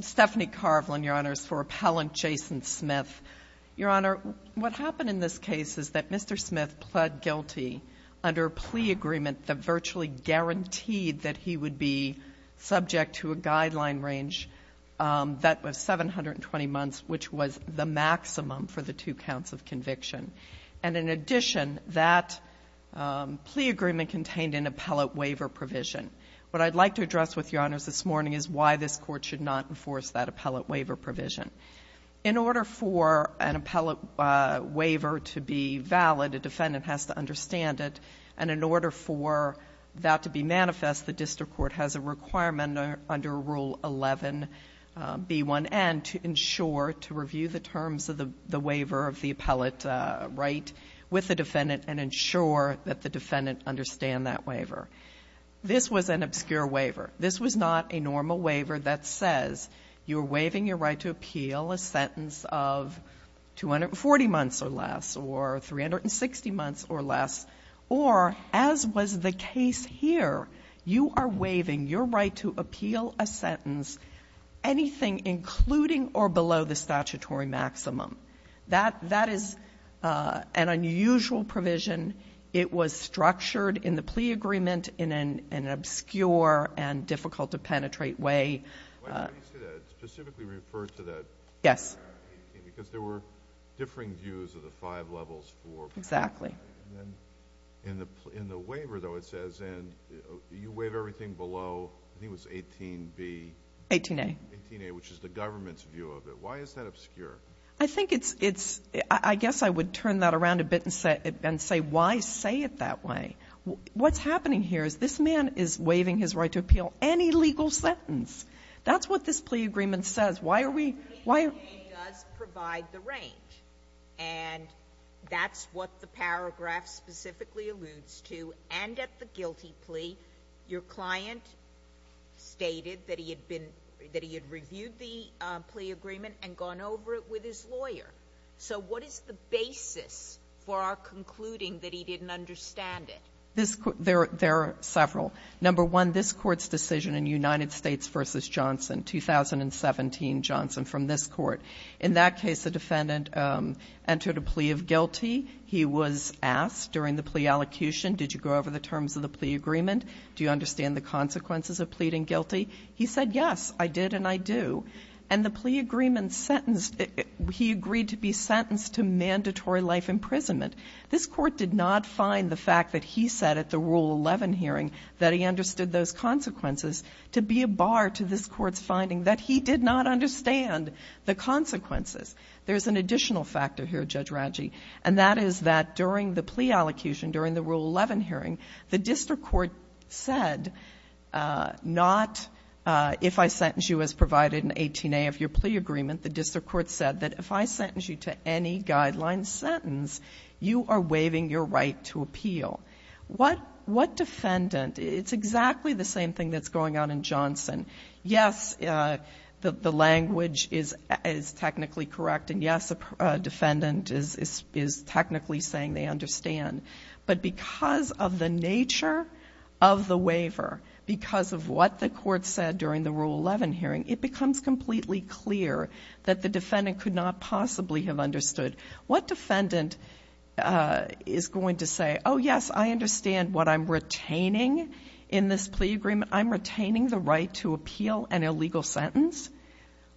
Stephanie Carvelin, Your Honors, for Appellant Jason Smith. Your Honor, what happened in this case is that Mr. Smith pled guilty under a plea agreement that virtually guaranteed that he would be subject to a guideline range that was 720 months, which was the maximum for the two counts of conviction. And in addition, that plea agreement contained an appellate waiver provision. What I'd like to address with Your Honors this morning is why this Court should not enforce that appellate waiver provision. In order for an appellate waiver to be valid, a defendant has to understand it. And in order for that to be manifest, the District Court has a requirement under Rule 11B1N to ensure, to review the terms of the waiver of the appellate right with the defendant and ensure that the defendant that waiver. This was an obscure waiver. This was not a normal waiver that says you're waiving your right to appeal a sentence of 240 months or less or 360 months or less, or as was the case here, you are waiving your right to appeal a sentence, anything including or below the statutory maximum. That is an unusual provision. It was structured in the plea agreement in an obscure and difficult to penetrate way. Why did you say that? It specifically referred to that 18B, because there were differing views of the five levels for appellate and then in the waiver, though, it says you waive everything below, I think it was 18B, 18A, which is the government's view of it. Why is that obscure? I think it's, I guess I would turn that around a bit and say, why say it that way? What's happening here is this man is waiving his right to appeal any legal sentence. That's what this plea agreement says. Why are we, why are 18A does provide the range. And that's what the paragraph specifically alludes to. And at the guilty plea, your client stated that he had been, that he had reviewed the plea agreement and gone over it with his lawyer. So what is the basis for our concluding that he didn't understand it? There are several. Number one, this court's decision in United States v. Johnson, 2017 Johnson from this court. In that case, the defendant entered a plea of guilty. He was asked during the plea allocution, did you go over the terms of the plea agreement? Do you understand the consequences of pleading guilty? He said, yes, I did and I do. And the plea agreement sentenced, he agreed to be sentenced to mandatory life imprisonment. This court did not find the fact that he said at the Rule 11 hearing that he understood those consequences to be a bar to this court's finding that he did not understand the consequences. There's an additional factor here, Judge Radji, and that is that during the plea allocation, during the Rule 11 hearing, the district court said not if I sentence you as provided an under plea agreement, the district court said that if I sentence you to any guideline sentence, you are waiving your right to appeal. What defendant, it's exactly the same thing that's going on in Johnson. Yes, the language is technically correct and yes, a defendant is technically saying they understand. But because of the nature of the waiver, because of what the court said during the Rule 11 hearing, it becomes completely clear that the defendant could not possibly have understood. What defendant is going to say, oh yes, I understand what I'm retaining in this plea agreement. I'm retaining the right to appeal an illegal sentence.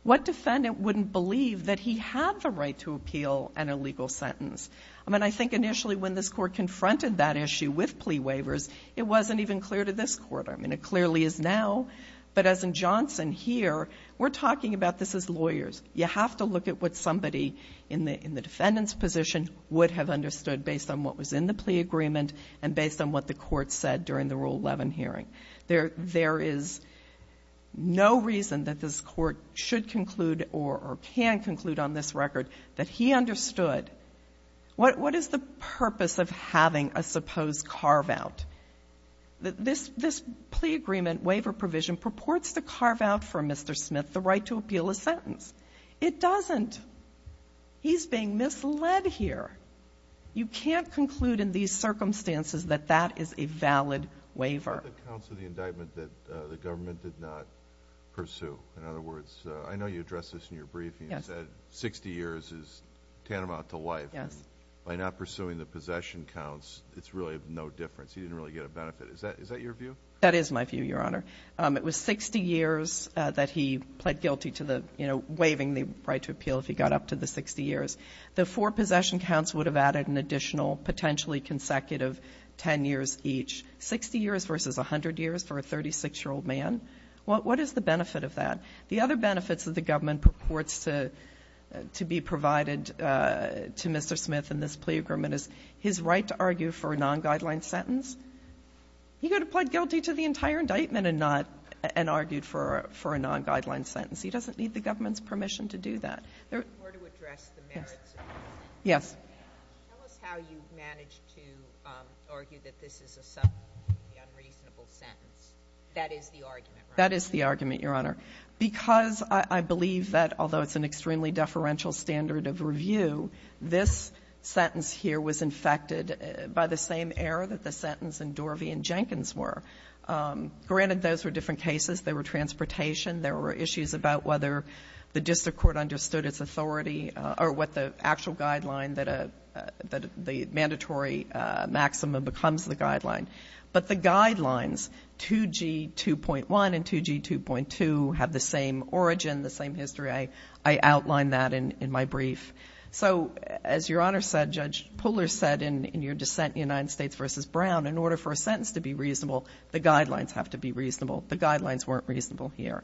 What defendant wouldn't believe that he had the right to appeal an illegal sentence? I mean, I think initially when this court confronted that issue with plea waivers, it wasn't even clear to this court. I mean, it clearly is now. But as in Johnson here, we're talking about this as lawyers. You have to look at what somebody in the defendant's position would have understood based on what was in the plea agreement and based on what the court said during the Rule 11 hearing. There is no reason that this court should conclude or can conclude on this record that he understood. What is the purpose of having a supposed carve-out? This plea agreement waiver provision purports the carve-out for Mr. Smith, the right to appeal a sentence. It doesn't. He's being misled here. You can't conclude in these circumstances that that is a valid waiver. The counsel, the indictment that the government did not pursue. In other words, I know you By not pursuing the possession counts, it's really no difference. He didn't really get a benefit. Is that your view? That is my view, Your Honor. It was 60 years that he pled guilty to the, you know, waiving the right to appeal if he got up to the 60 years. The four possession counts would have added an additional potentially consecutive 10 years each. Sixty years versus 100 years for a 36-year-old man? What is the benefit of that? The other benefits that the government purports to be provided to Mr. Smith in this plea agreement is his right to argue for a non-guideline sentence. He could have pled guilty to the entire indictment and argued for a non-guideline sentence. He doesn't need the government's permission to do that. In order to address the merits of that, tell us how you managed to argue that this is a subpoena for the unreasonable sentence. That is the argument, right? Because I believe that although it's an extremely deferential standard of review, this sentence here was infected by the same error that the sentence in Dorvey and Jenkins were. Granted, those were different cases. They were transportation. There were issues about whether the district court understood its authority or what the actual guideline that the mandatory maximum becomes the guideline. But the guidelines, 2G2.1 and 2G2.2, have the same origin, the same history. I outlined that in my brief. So, as Your Honor said, Judge Puller said in your dissent in United States v. Brown, in order for a sentence to be reasonable, the guidelines have to be reasonable. The guidelines weren't reasonable here.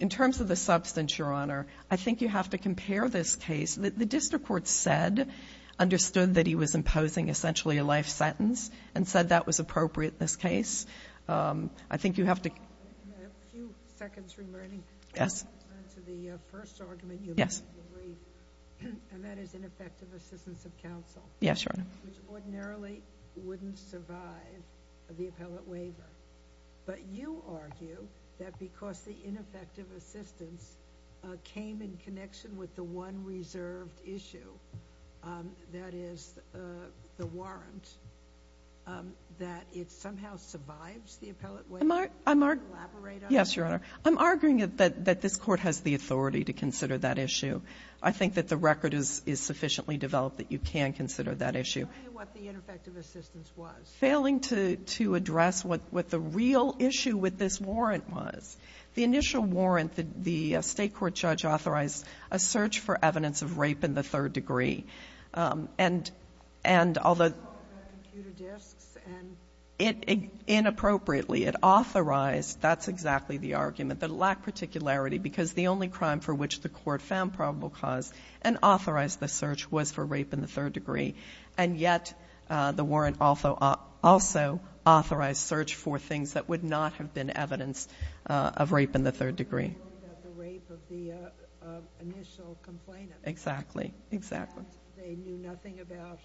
In terms of the substance, Your Honor, I think you have to compare this case. The district court said, understood that he was imposing essentially a life sentence and said that was appropriate in this case. I think you have to... I have a few seconds remaining. Yes. To the first argument you made in your brief, and that is ineffective assistance of counsel. Yes, Your Honor. Which ordinarily wouldn't survive the appellate waiver. But you argue that because the ineffective assistance came in connection with the one reserved issue, that is the warrant, that it somehow survives the appellate waiver? I'm arguing... Can you elaborate on that? Yes, Your Honor. I'm arguing that this court has the authority to consider that issue. I think that the record is sufficiently developed that you can consider that issue. Tell me what the ineffective assistance was. Failing to address what the real issue with this warrant was. The initial warrant, the State court judge authorized a search for evidence of rape in the third degree. And although... Computer disks and... Inappropriately. It authorized, that's exactly the argument, that it lacked particularity because the only crime for which the court found probable cause and authorized the search was for rape in the third degree. And yet, the warrant also authorized search for things that would not have been evidence of rape in the third degree. The rape of the initial complainant. Exactly. Exactly. They knew nothing about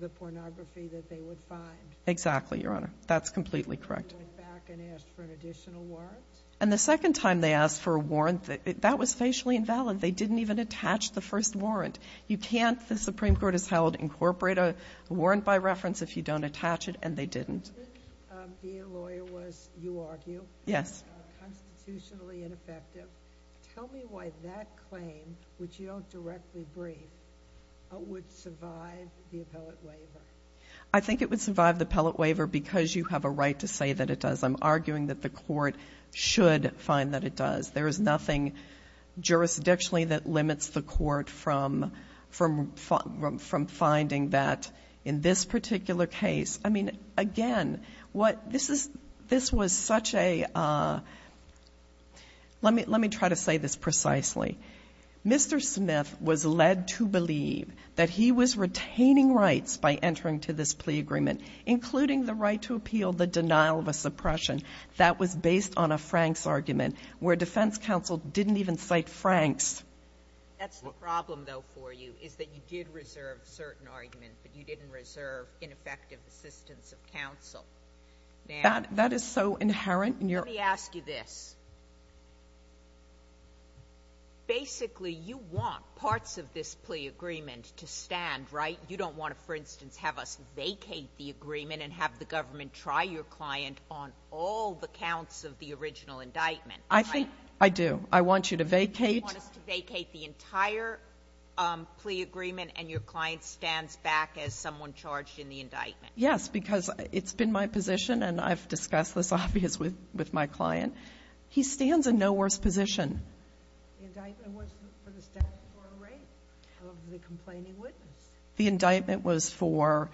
the pornography that they would find. Exactly, Your Honor. That's completely correct. They went back and asked for an additional warrant? And the second time they asked for a warrant, that was facially invalid. They didn't even attach the first warrant. You can't, the Supreme Court has held, incorporate a warrant by reference if you don't attach it, and they didn't. The lawyer was, you argue, constitutionally ineffective. Tell me why that claim, which you don't directly brief, would survive the appellate waiver. I think it would survive the appellate waiver because you have a right to say that it does. I'm arguing that the court should find that it does. There is nothing jurisdictionally that limits the court from finding that in this particular case. I mean, again, this was such a, let me try to say this precisely. Mr. Smith was led to believe that he was retaining rights by entering to this plea agreement, including the right to appeal the denial of a suppression. That was based on a Franks argument, where defense counsel didn't even cite Franks. That's the problem, though, for you, is that you did reserve a certain argument, but you didn't reserve ineffective assistance of counsel. That is so inherent in your... Let me ask you this. Basically, you want parts of this plea agreement to stand, right? You don't want to, for instance, have us vacate the agreement and have the government try your client on all the counts of the original indictment, right? I do. I want you to vacate... You want us to vacate the entire plea agreement and your client stands back as someone charged in the indictment. Yes, because it's been my position, and I've discussed this obviously with my client. He stands in no worse position. The indictment was for the statutory rape of the complaining witness. The indictment was for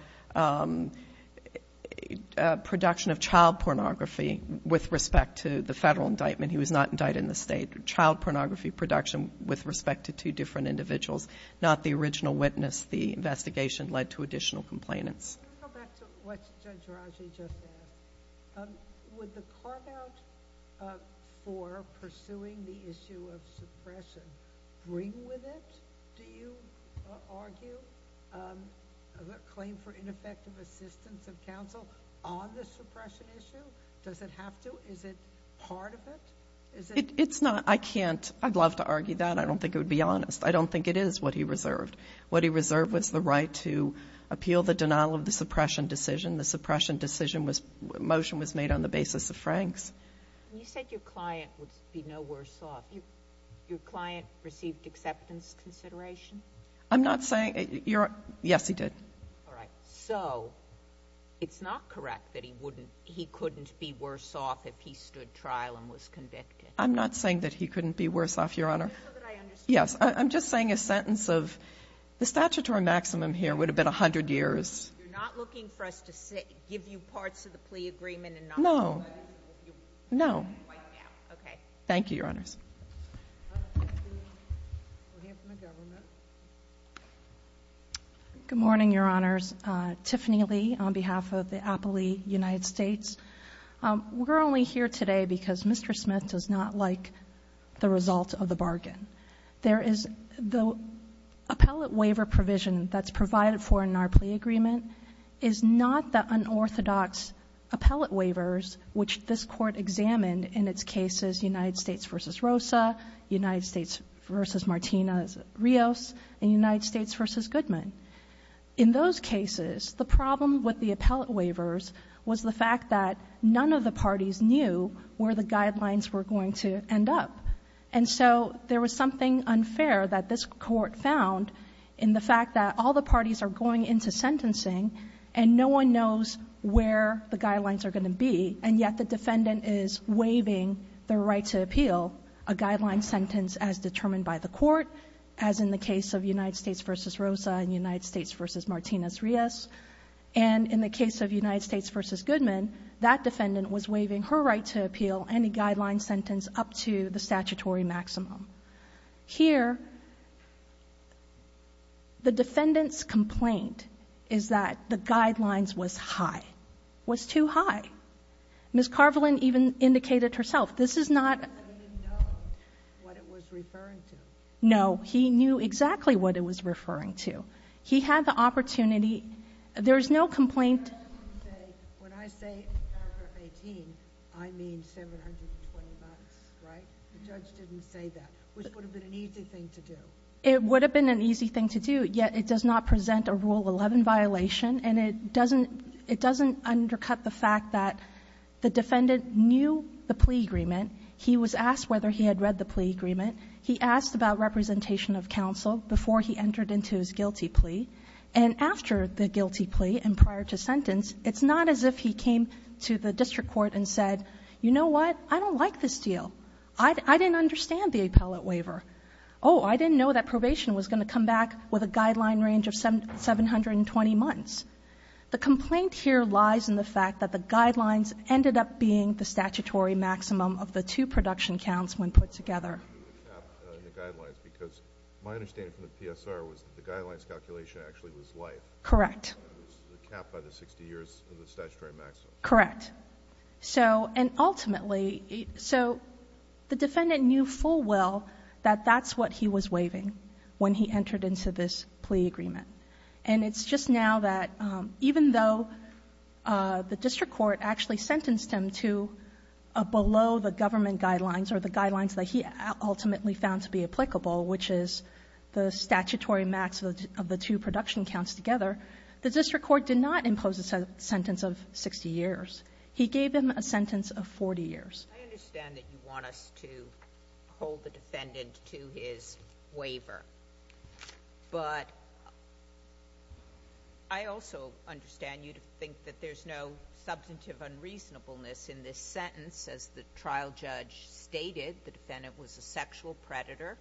production of child pornography with respect to the federal indictment. He was not indicted in the state. Child pornography production with respect to two different individuals, not the original witness. The investigation led to additional complainants. Let's go back to what Judge Raji just asked. Would the carve-out for pursuing the issue of suppression bring with it, do you argue? A claim for ineffective assistance of counsel on the suppression issue? Does it have to? Is it part of it? It's not. I can't... I'd love to argue that. I don't think it would be honest. I don't think it is what he reserved. What he reserved was the right to appeal the denial of the suppression decision. The suppression decision was... motion was made on the basis of Frank's. You said your client would be no worse off. Your client received acceptance consideration? I'm not saying... Yes, he did. All right. So, it's not correct that he wouldn't... he couldn't be worse off if he stood trial and was convicted? I'm not saying that he couldn't be worse off, Your Honor. Just so that I understand... Yes. I'm just saying a sentence of... the statutory maximum here would have been 100 years. You're not looking for us to give you parts of the plea agreement and not... No. No. Right now. Okay. Thank you, Your Honors. I have a question for him from the government. Good morning, Your Honors. Tiffany Lee on behalf of the Appley United States. We're only here today because Mr. Smith does not like the result of the bargain. There is... the appellate waiver provision that's provided for in our plea agreement is not the unorthodox appellate waivers which this court examined in its cases United States v. Rosa, United States v. Martinez-Rios, and United States v. Goodman. In those cases, the problem with the appellate waivers was the fact that none of the parties knew where the guidelines were going to end up. And so, there was something unfair that this court found in the fact that all the parties are going into sentencing and no one knows where the guidelines are going to be and yet the defendant is waiving the right to appeal a guideline sentence as determined by the court as in the case of United States v. Rosa and United States v. Martinez-Rios. And in the case of United States v. Goodman, that defendant was waiving her right to appeal any guideline sentence up to the statutory maximum. Here, the defendant's complaint is that the guidelines was high. Was too high. Ms. Carvelan even indicated herself. This is not... I didn't know what it was referring to. No, he knew exactly what it was referring to. He had the opportunity. There is no complaint... When I say paragraph 18, I mean 720 bucks, right? The judge didn't say that, which would have been an easy thing to do. It would have been an easy thing to do, yet it does not present a Rule 11 violation and it doesn't undercut the fact that the defendant knew the plea agreement. He was asked whether he had read the plea agreement. He asked about representation of counsel before he entered into his guilty plea. And after the guilty plea and prior to sentence, it's not as if he came to the district court and said, you know what, I don't like this deal. I didn't understand the appellate waiver. Oh, I didn't know that probation was going to come back with a guideline range of 720 months. The complaint here lies in the fact that the guidelines ended up being the statutory maximum of the two production counts when put together. Because my understanding from the PSR was that the guidelines calculation actually was life. Correct. It was a cap by the 60 years of the statutory maximum. Correct. So, and ultimately... So the defendant knew full well that that's what he was waiving when he entered into this plea agreement. And it's just now that even though the district court actually sentenced him to below the government guidelines or the guidelines that he ultimately found to be applicable, which is the statutory maximum of the two production counts together, the district court did not impose a sentence of 60 years. He gave him a sentence of 40 years. I understand that you want us to hold the defendant to his waiver. But... I also understand you to think that there's no substantive unreasonableness in this sentence. As the trial judge stated, the defendant was a sexual predator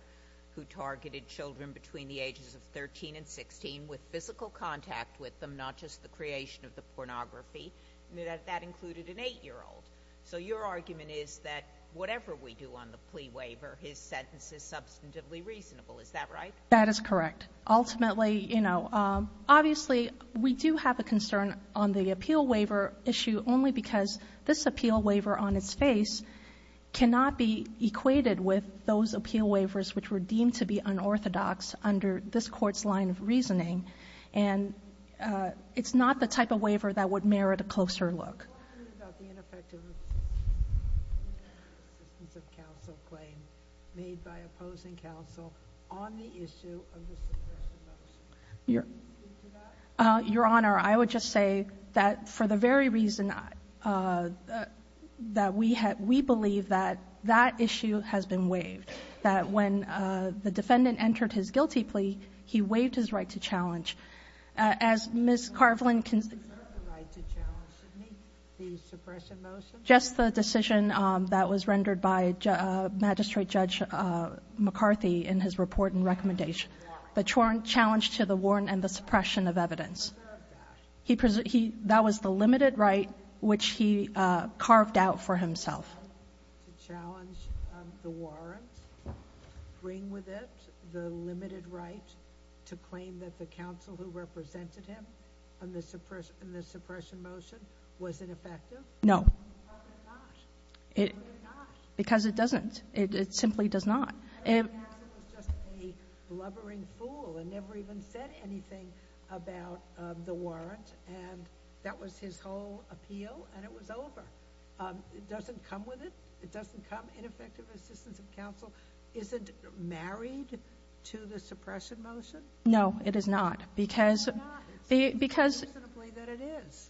who targeted children between the ages of 13 and 16 with physical contact with them, not just the creation of the pornography. That included an 8-year-old. So your argument is that whatever we do on the plea waiver, his sentence is substantively reasonable. Is that right? That is correct. Ultimately, you know, obviously we do have a concern on the appeal waiver issue only because this appeal waiver on its face cannot be equated with those appeal waivers which were deemed to be unorthodox under this court's line of reasoning. And it's not the type of waiver that would merit a closer look. Your Honor, I would just say that for the very reason that we believe that that issue has been waived, that when the defendant entered his guilty plea, he waived his right to challenge. As Ms. Carvelan can... It means that he has the right to challenge. The suppression motion? Just the decision that was rendered by Magistrate Judge McCarthy in his report and recommendation. The challenge to the warrant and the suppression of evidence. That was the limited right which he carved out for himself. To challenge the warrant, bring with it the limited right to claim that the counsel who represented him in the suppression motion was ineffective? No. Why would it not? Because it doesn't. It simply does not. It was just a blubbering fool and never even said anything about the warrant. And that was his whole appeal and it was over. It doesn't come with it? It doesn't come, ineffective assistance of counsel? Is it married to the suppression motion? No, it is not. Because... It's not.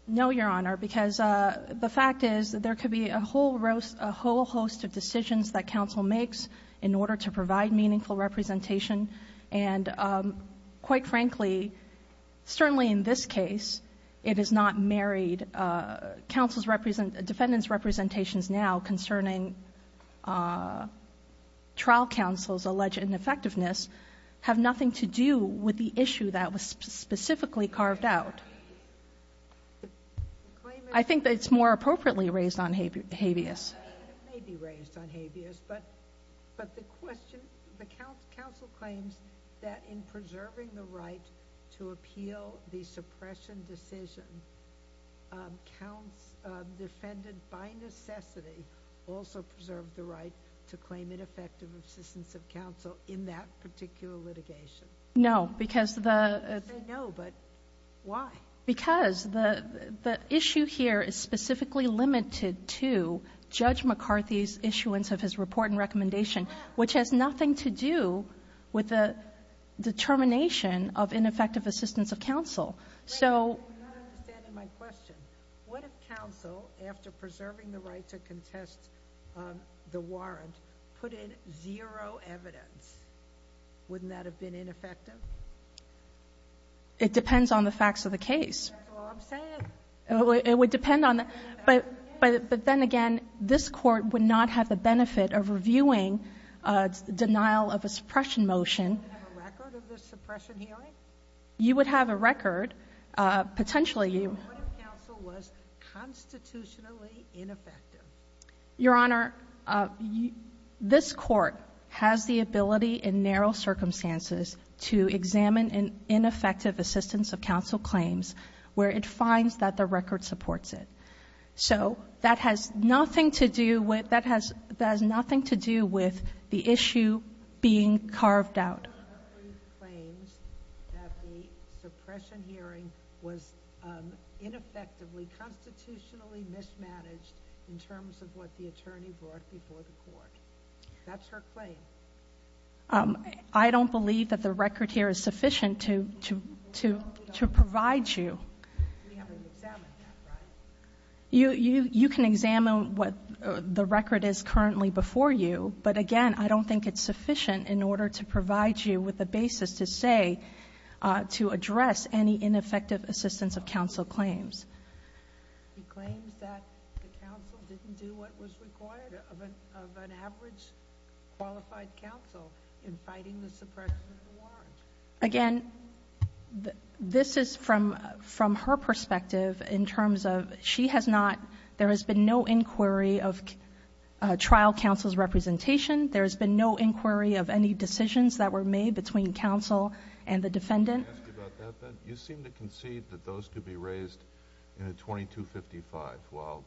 No, Your Honor, because the fact is there could be a whole host of decisions that counsel makes in order to provide meaningful representation and quite frankly, certainly in this case, it is not married. Defendant's representations now concerning trial counsel's alleged ineffectiveness have nothing to do with the issue that was specifically carved out. I think that it's more appropriately raised on habeas. It may be raised on habeas, but the question... The counsel claims that in preserving the right to appeal the suppression decision, counsel defended by necessity also preserved the right to claim ineffective assistance of counsel in that particular litigation. No, because the... You say no, but why? Because the issue here is specifically limited to Judge McCarthy's issuance of his report and recommendation, which has nothing to do with the determination of ineffective assistance of counsel. You're not understanding my question. What if counsel, after preserving the right to contest the warrant, put in zero evidence? Wouldn't that have been ineffective? It depends on the facts of the case. That's all I'm saying. It would depend on... But then again, this Court would not have the benefit of reviewing denial of a suppression motion. You would have a record of the suppression hearing? You would have a record. Potentially, you... What if counsel was constitutionally ineffective? Your Honour, this Court has the ability in narrow circumstances to examine an ineffective assistance of counsel claims where it finds that the record supports it. So that has nothing to do with... That has nothing to do with the issue being carved out. ...claims that the suppression hearing was ineffectively, constitutionally mismanaged in terms of what the attorney brought before the Court. That's her claim. I don't believe that the record here is sufficient to provide you. We haven't examined that, right? You can examine what the record is currently before you, but again, I don't think it's sufficient in order to provide you with a basis to say, to address any ineffective assistance of counsel claims. He claims that the counsel didn't do what was required of an average qualified counsel in fighting the suppression of the warrant. Again, this is from her perspective in terms of she has not... There has been no inquiry of trial counsel's representation. There has been no inquiry of any decisions that were made between counsel and the defendant. You seem to concede that those could be raised in a 2255 while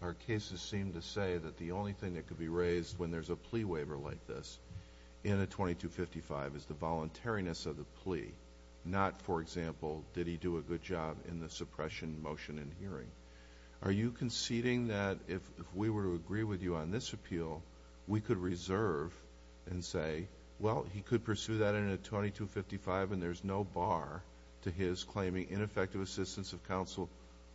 our cases seem to say that the only thing that could be raised when there's a plea waiver like this in a 2255 is the voluntariness of the plea, not, for example, did he do a good job in the suppression motion in hearing. Are you conceding that if we were to agree with you on this appeal, we could reserve and say, well, he could pursue that in a 2255 and there's no bar to his claiming ineffective assistance of counsel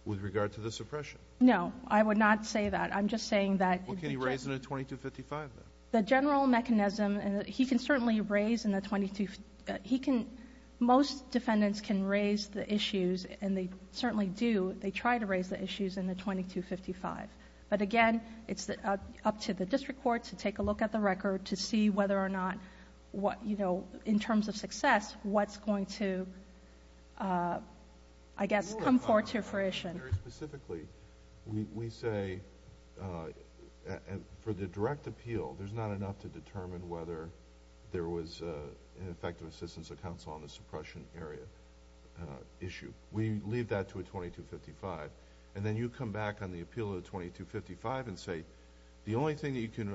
with regard to the suppression? No, I would not say that. I'm just saying that... Well, can he raise it in a 2255, then? The general mechanism... He can certainly raise in a 22... He can... Most defendants can raise the issues, and they certainly do. They try to raise the issues in a 2255. But again, it's up to the district court to take a look at the record to see whether or not, you know, in terms of success, what's going to, I guess, come forward to fruition. Very specifically, we say for the direct appeal, there's not enough to determine whether there was an effective assistance of counsel on the suppression area issue. We leave that to a 2255, and then you come back on the appeal of the 2255 and say, the only thing that you can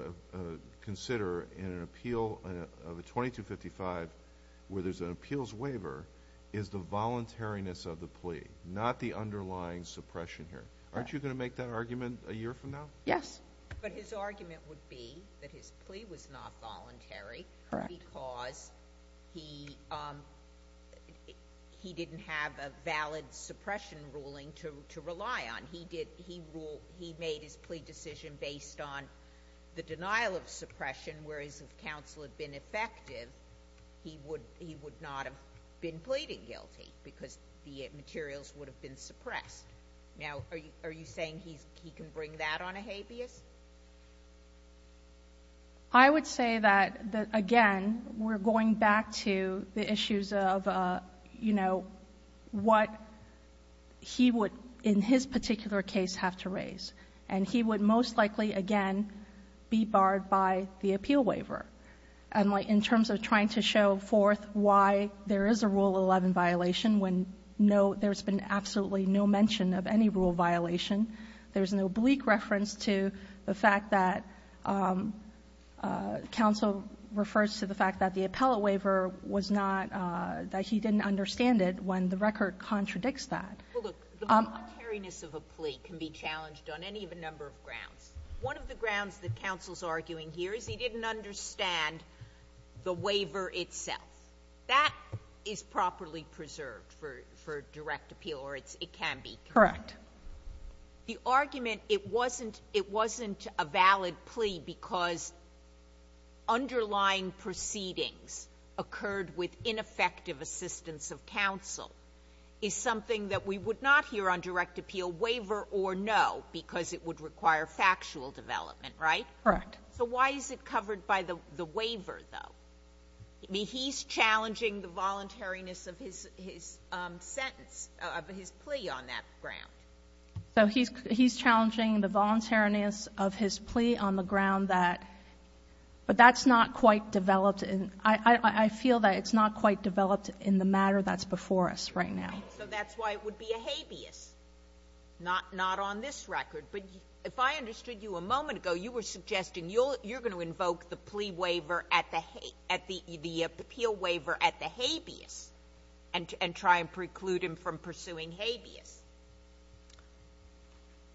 consider in an appeal of a 2255 where there's an appeals waiver is the voluntariness of the plea, not the underlying suppression here. Aren't you going to make that argument a year from now? Yes. But his argument would be that his plea was not voluntary because he, um... he didn't have a valid suppression ruling to rely on. He did... He ruled... He made his plea decision based on the denial of suppression whereas if counsel had been effective, he would not have been pleading guilty because the materials would have been suppressed. Now, are you saying he can bring that on a habeas? I would say that, again, we're going back to the issues of, you know, what he would, in his particular case, have to raise. And he would most likely, again, be barred by the appeal waiver. And in terms of trying to show forth why there is a Rule 11 violation when there's been absolutely no mention of any rule violation, there's an oblique reference to the fact that, um... Counsel refers to the fact that the appellate waiver was not... that he didn't understand it when the record contradicts that. Well, look, the voluntariness of a plea can be challenged on any of a number of grounds. One of the grounds that counsel's arguing here is he didn't understand the waiver itself. That is properly preserved for direct appeal, or it can be. Correct. The argument it wasn't a valid plea because underlying proceedings occurred with ineffective assistance of counsel is something that we would not hear on direct appeal, whether it's a waiver or no, because it would require factual development, right? Correct. So why is it covered by the waiver, though? I mean, he's challenging the voluntariness of his sentence, of his plea on that ground. So he's challenging the voluntariness of his plea on the ground that... But that's not quite developed in... I feel that it's not quite developed in the matter that's before us right now. So that's why it would be a habeas, not on this record. But if I understood you a moment ago, you were suggesting you're going to invoke the plea waiver at the... the appeal waiver at the habeas and try and preclude him from pursuing habeas.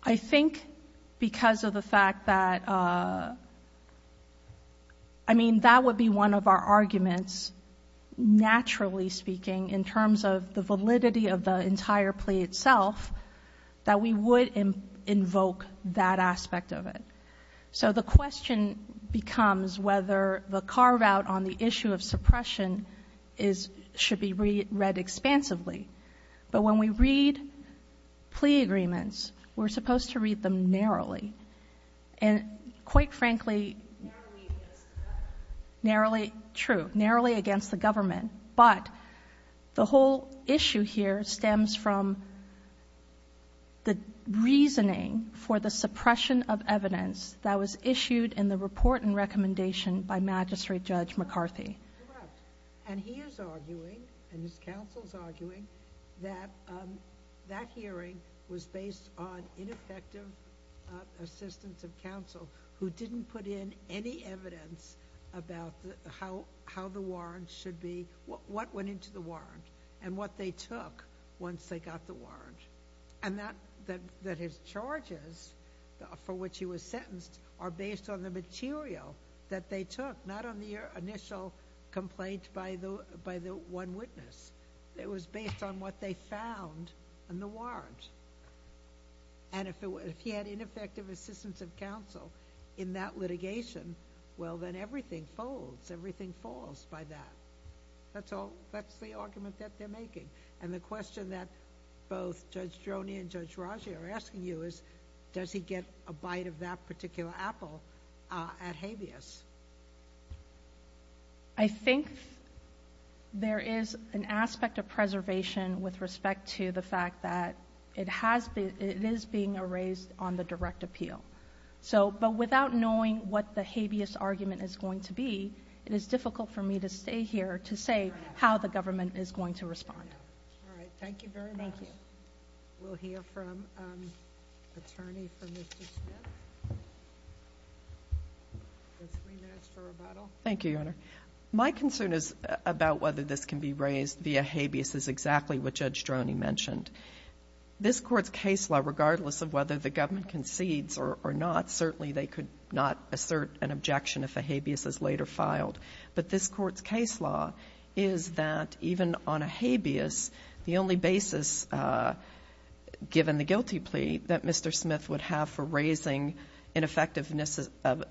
I think because of the fact that... I mean, that would be one of our arguments, naturally speaking, in terms of the validity of the entire plea itself, that we would invoke that aspect of it. So the question becomes whether the carve-out on the issue of suppression is... should be read expansively. But when we read plea agreements, we're supposed to read them narrowly. And quite frankly... Narrowly against the government. Narrowly... true. Narrowly against the government. But the whole issue here stems from... the reasoning for the suppression of evidence that was issued in the report and recommendation by Magistrate Judge McCarthy. Correct. And he is arguing, and his counsel's arguing, that that hearing was based on ineffective assistance of counsel, who didn't put in any evidence about how the warrant should be... what went into the warrant, and what they took once they got the warrant. And that his charges, for which he was sentenced, are based on the material that they took, not on the initial complaint by the one witness. It was based on what they found in the warrant. And if he had ineffective assistance of counsel in that litigation, well, then everything folds. Everything falls by that. That's all... that's the argument that they're making. And the question that both Judge Droney and Judge Rajee are asking you is, does he get a bite of that particular apple at habeas? I think there is an aspect of preservation with respect to the fact that it has been... it is being erased on the direct appeal. So... but without knowing what the habeas argument is going to be, it is difficult for me to stay here to say how the government is going to respond. All right, thank you very much. We'll hear from attorney for Mr. Smith. Three minutes for rebuttal. Thank you, Your Honor. My concern is about whether this can be raised via habeas is exactly what Judge Droney mentioned. This court's case law, regardless of whether the government concedes or not, certainly they could not assert an objection if a habeas is later filed. But this court's case law is that even on a habeas, the only basis, given the guilty plea, that Mr. Smith would have for raising ineffectiveness...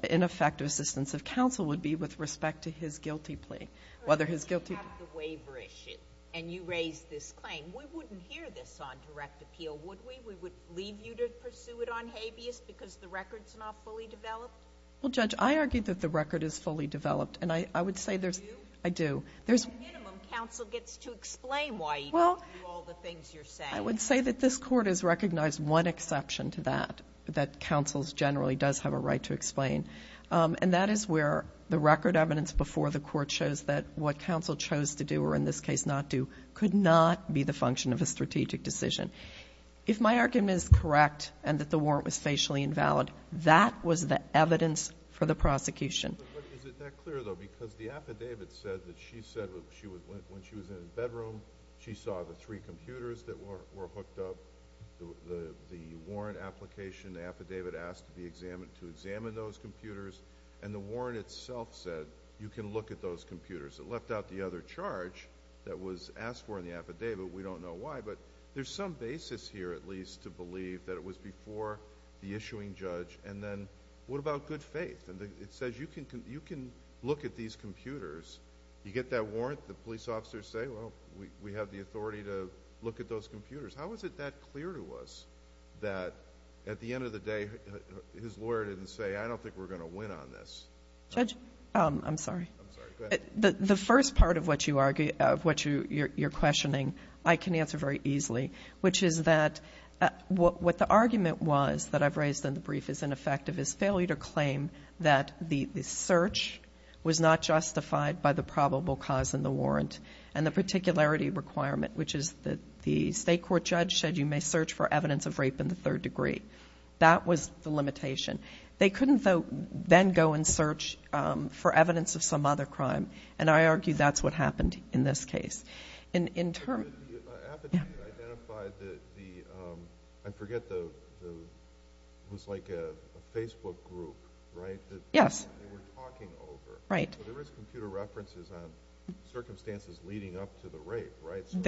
ineffective assistance of counsel would be with respect to his guilty plea. Whether his guilty... You have the waiver issue, and you raise this claim. We wouldn't hear this on direct appeal, would we? We would leave you to pursue it on habeas because the record's not fully developed? Well, Judge, I argue that the record is fully developed, and I would say there's... Do you? I do. At a minimum, counsel gets to explain why you don't do all the things you're saying. I would say that this court has recognized one exception to that, that counsel generally does have a right to explain. And that is where the record evidence before the court shows that what counsel chose to do or in this case not do could not be the function of a strategic decision. If my argument is correct and that the warrant was facially invalid, that was the evidence for the prosecution. But is it that clear, though? Because the affidavit said that she said when she was in the bedroom, she saw the three computers that were hooked up, the warrant application, the affidavit asked to be examined to examine those computers, and the warrant itself said, you can look at those computers. It left out the other charge that was asked for in the affidavit. We don't know why, but there's some basis here at least to believe that it was before the issuing judge. And then what about good faith? It says you can look at these computers. You get that warrant, the police officers say, well, we have the authority to look at those computers. How is it that clear to us that at the end of the day, his lawyer didn't say, I don't think we're going to win on this? Judge, I'm sorry. I'm sorry, go ahead. The first part of what you're questioning, I can answer very easily, which is that what the argument was that I've raised in the brief is ineffective is failure to claim that the search was not justified by the probable cause in the warrant and the particularity requirement, which is that the state court judge said you may search for evidence of rape in the third degree. That was the limitation. They couldn't then go and search for evidence of some other crime, and I argue that's what happened in this case. In terms... The affidavit identified the... I forget the... It was like a Facebook group, right? Yes. They were talking over. Right. There is computer references on circumstances leading up to the rape, right? You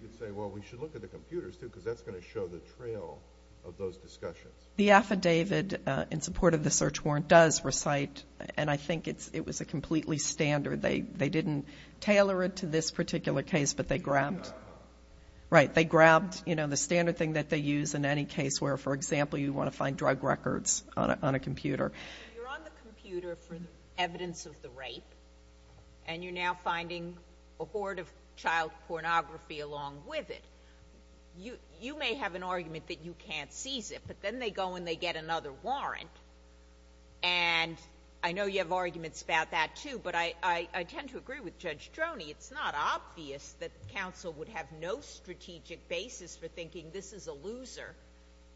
could say, well, we should look at the computers, too, because that's going to show the trail of those discussions. The affidavit in support of the search warrant does recite, and I think it was a completely standard. They didn't tailor it to this particular case, but they grabbed... Right. They grabbed, you know, the standard thing that they use in any case where, for example, you want to find drug records on a computer. You're on the computer for evidence of the rape, and you're now finding a hoard of child pornography along with it. You may have an argument that you can't seize it, but then they go and they get another warrant, and I know you have arguments about that, too, but I tend to agree with Judge Droney. It's not obvious that counsel would have no strategic basis for thinking this is a loser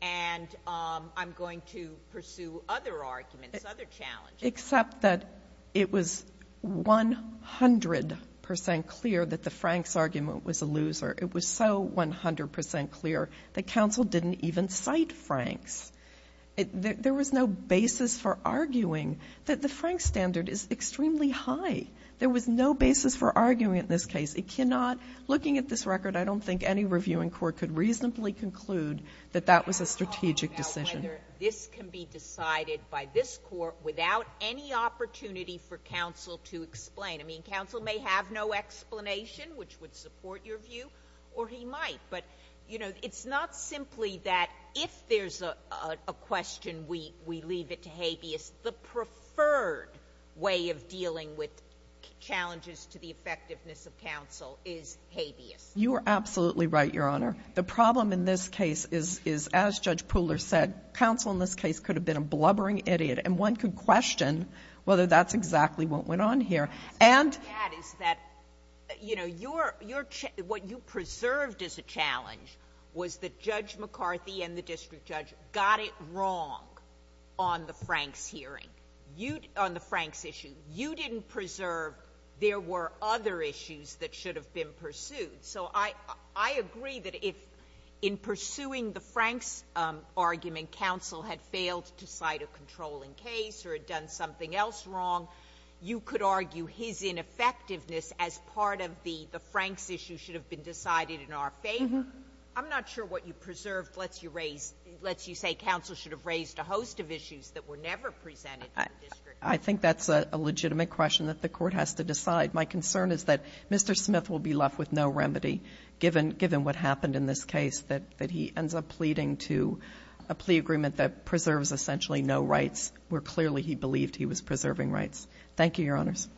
and I'm going to pursue other arguments, other challenges. Except that it was 100% clear that the Franks argument was a loser. It was so 100% clear that counsel didn't even cite Franks. There was no basis for arguing that the Franks standard is extremely high. There was no basis for arguing it in this case. It cannot... Looking at this record, I don't think any reviewing court could reasonably conclude that that was a strategic decision. This can be decided by this court without any opportunity for counsel to explain. I mean, counsel may have no explanation, which would support your view, or he might. But, you know, it's not simply that if there's a question, we leave it to habeas. The preferred way of dealing with challenges to the effectiveness of counsel is habeas. You are absolutely right, Your Honor. The problem in this case is, as Judge Pooler said, counsel in this case could have been a blubbering idiot and one could question whether that's exactly what went on here. And... What I'm saying is that, you know, what you preserved as a challenge was that Judge McCarthy and the district judge got it wrong on the Franks hearing, on the Franks issue. You didn't preserve there were other issues that should have been pursued. So I agree that if, in pursuing the Franks argument, counsel had failed to cite a controlling case or had done something else wrong, you could argue his ineffectiveness as part of the Franks issue should have been decided in our favor. I'm not sure what you preserved lets you say counsel should have raised a host of issues that were never presented to the district. I think that's a legitimate question that the court has to decide. My concern is that Mr. Smith will be left with no remedy given what happened in this case, that he ends up pleading to a plea agreement that preserves essentially no rights where clearly he believed he was preserving rights. Thank you, Your Honors.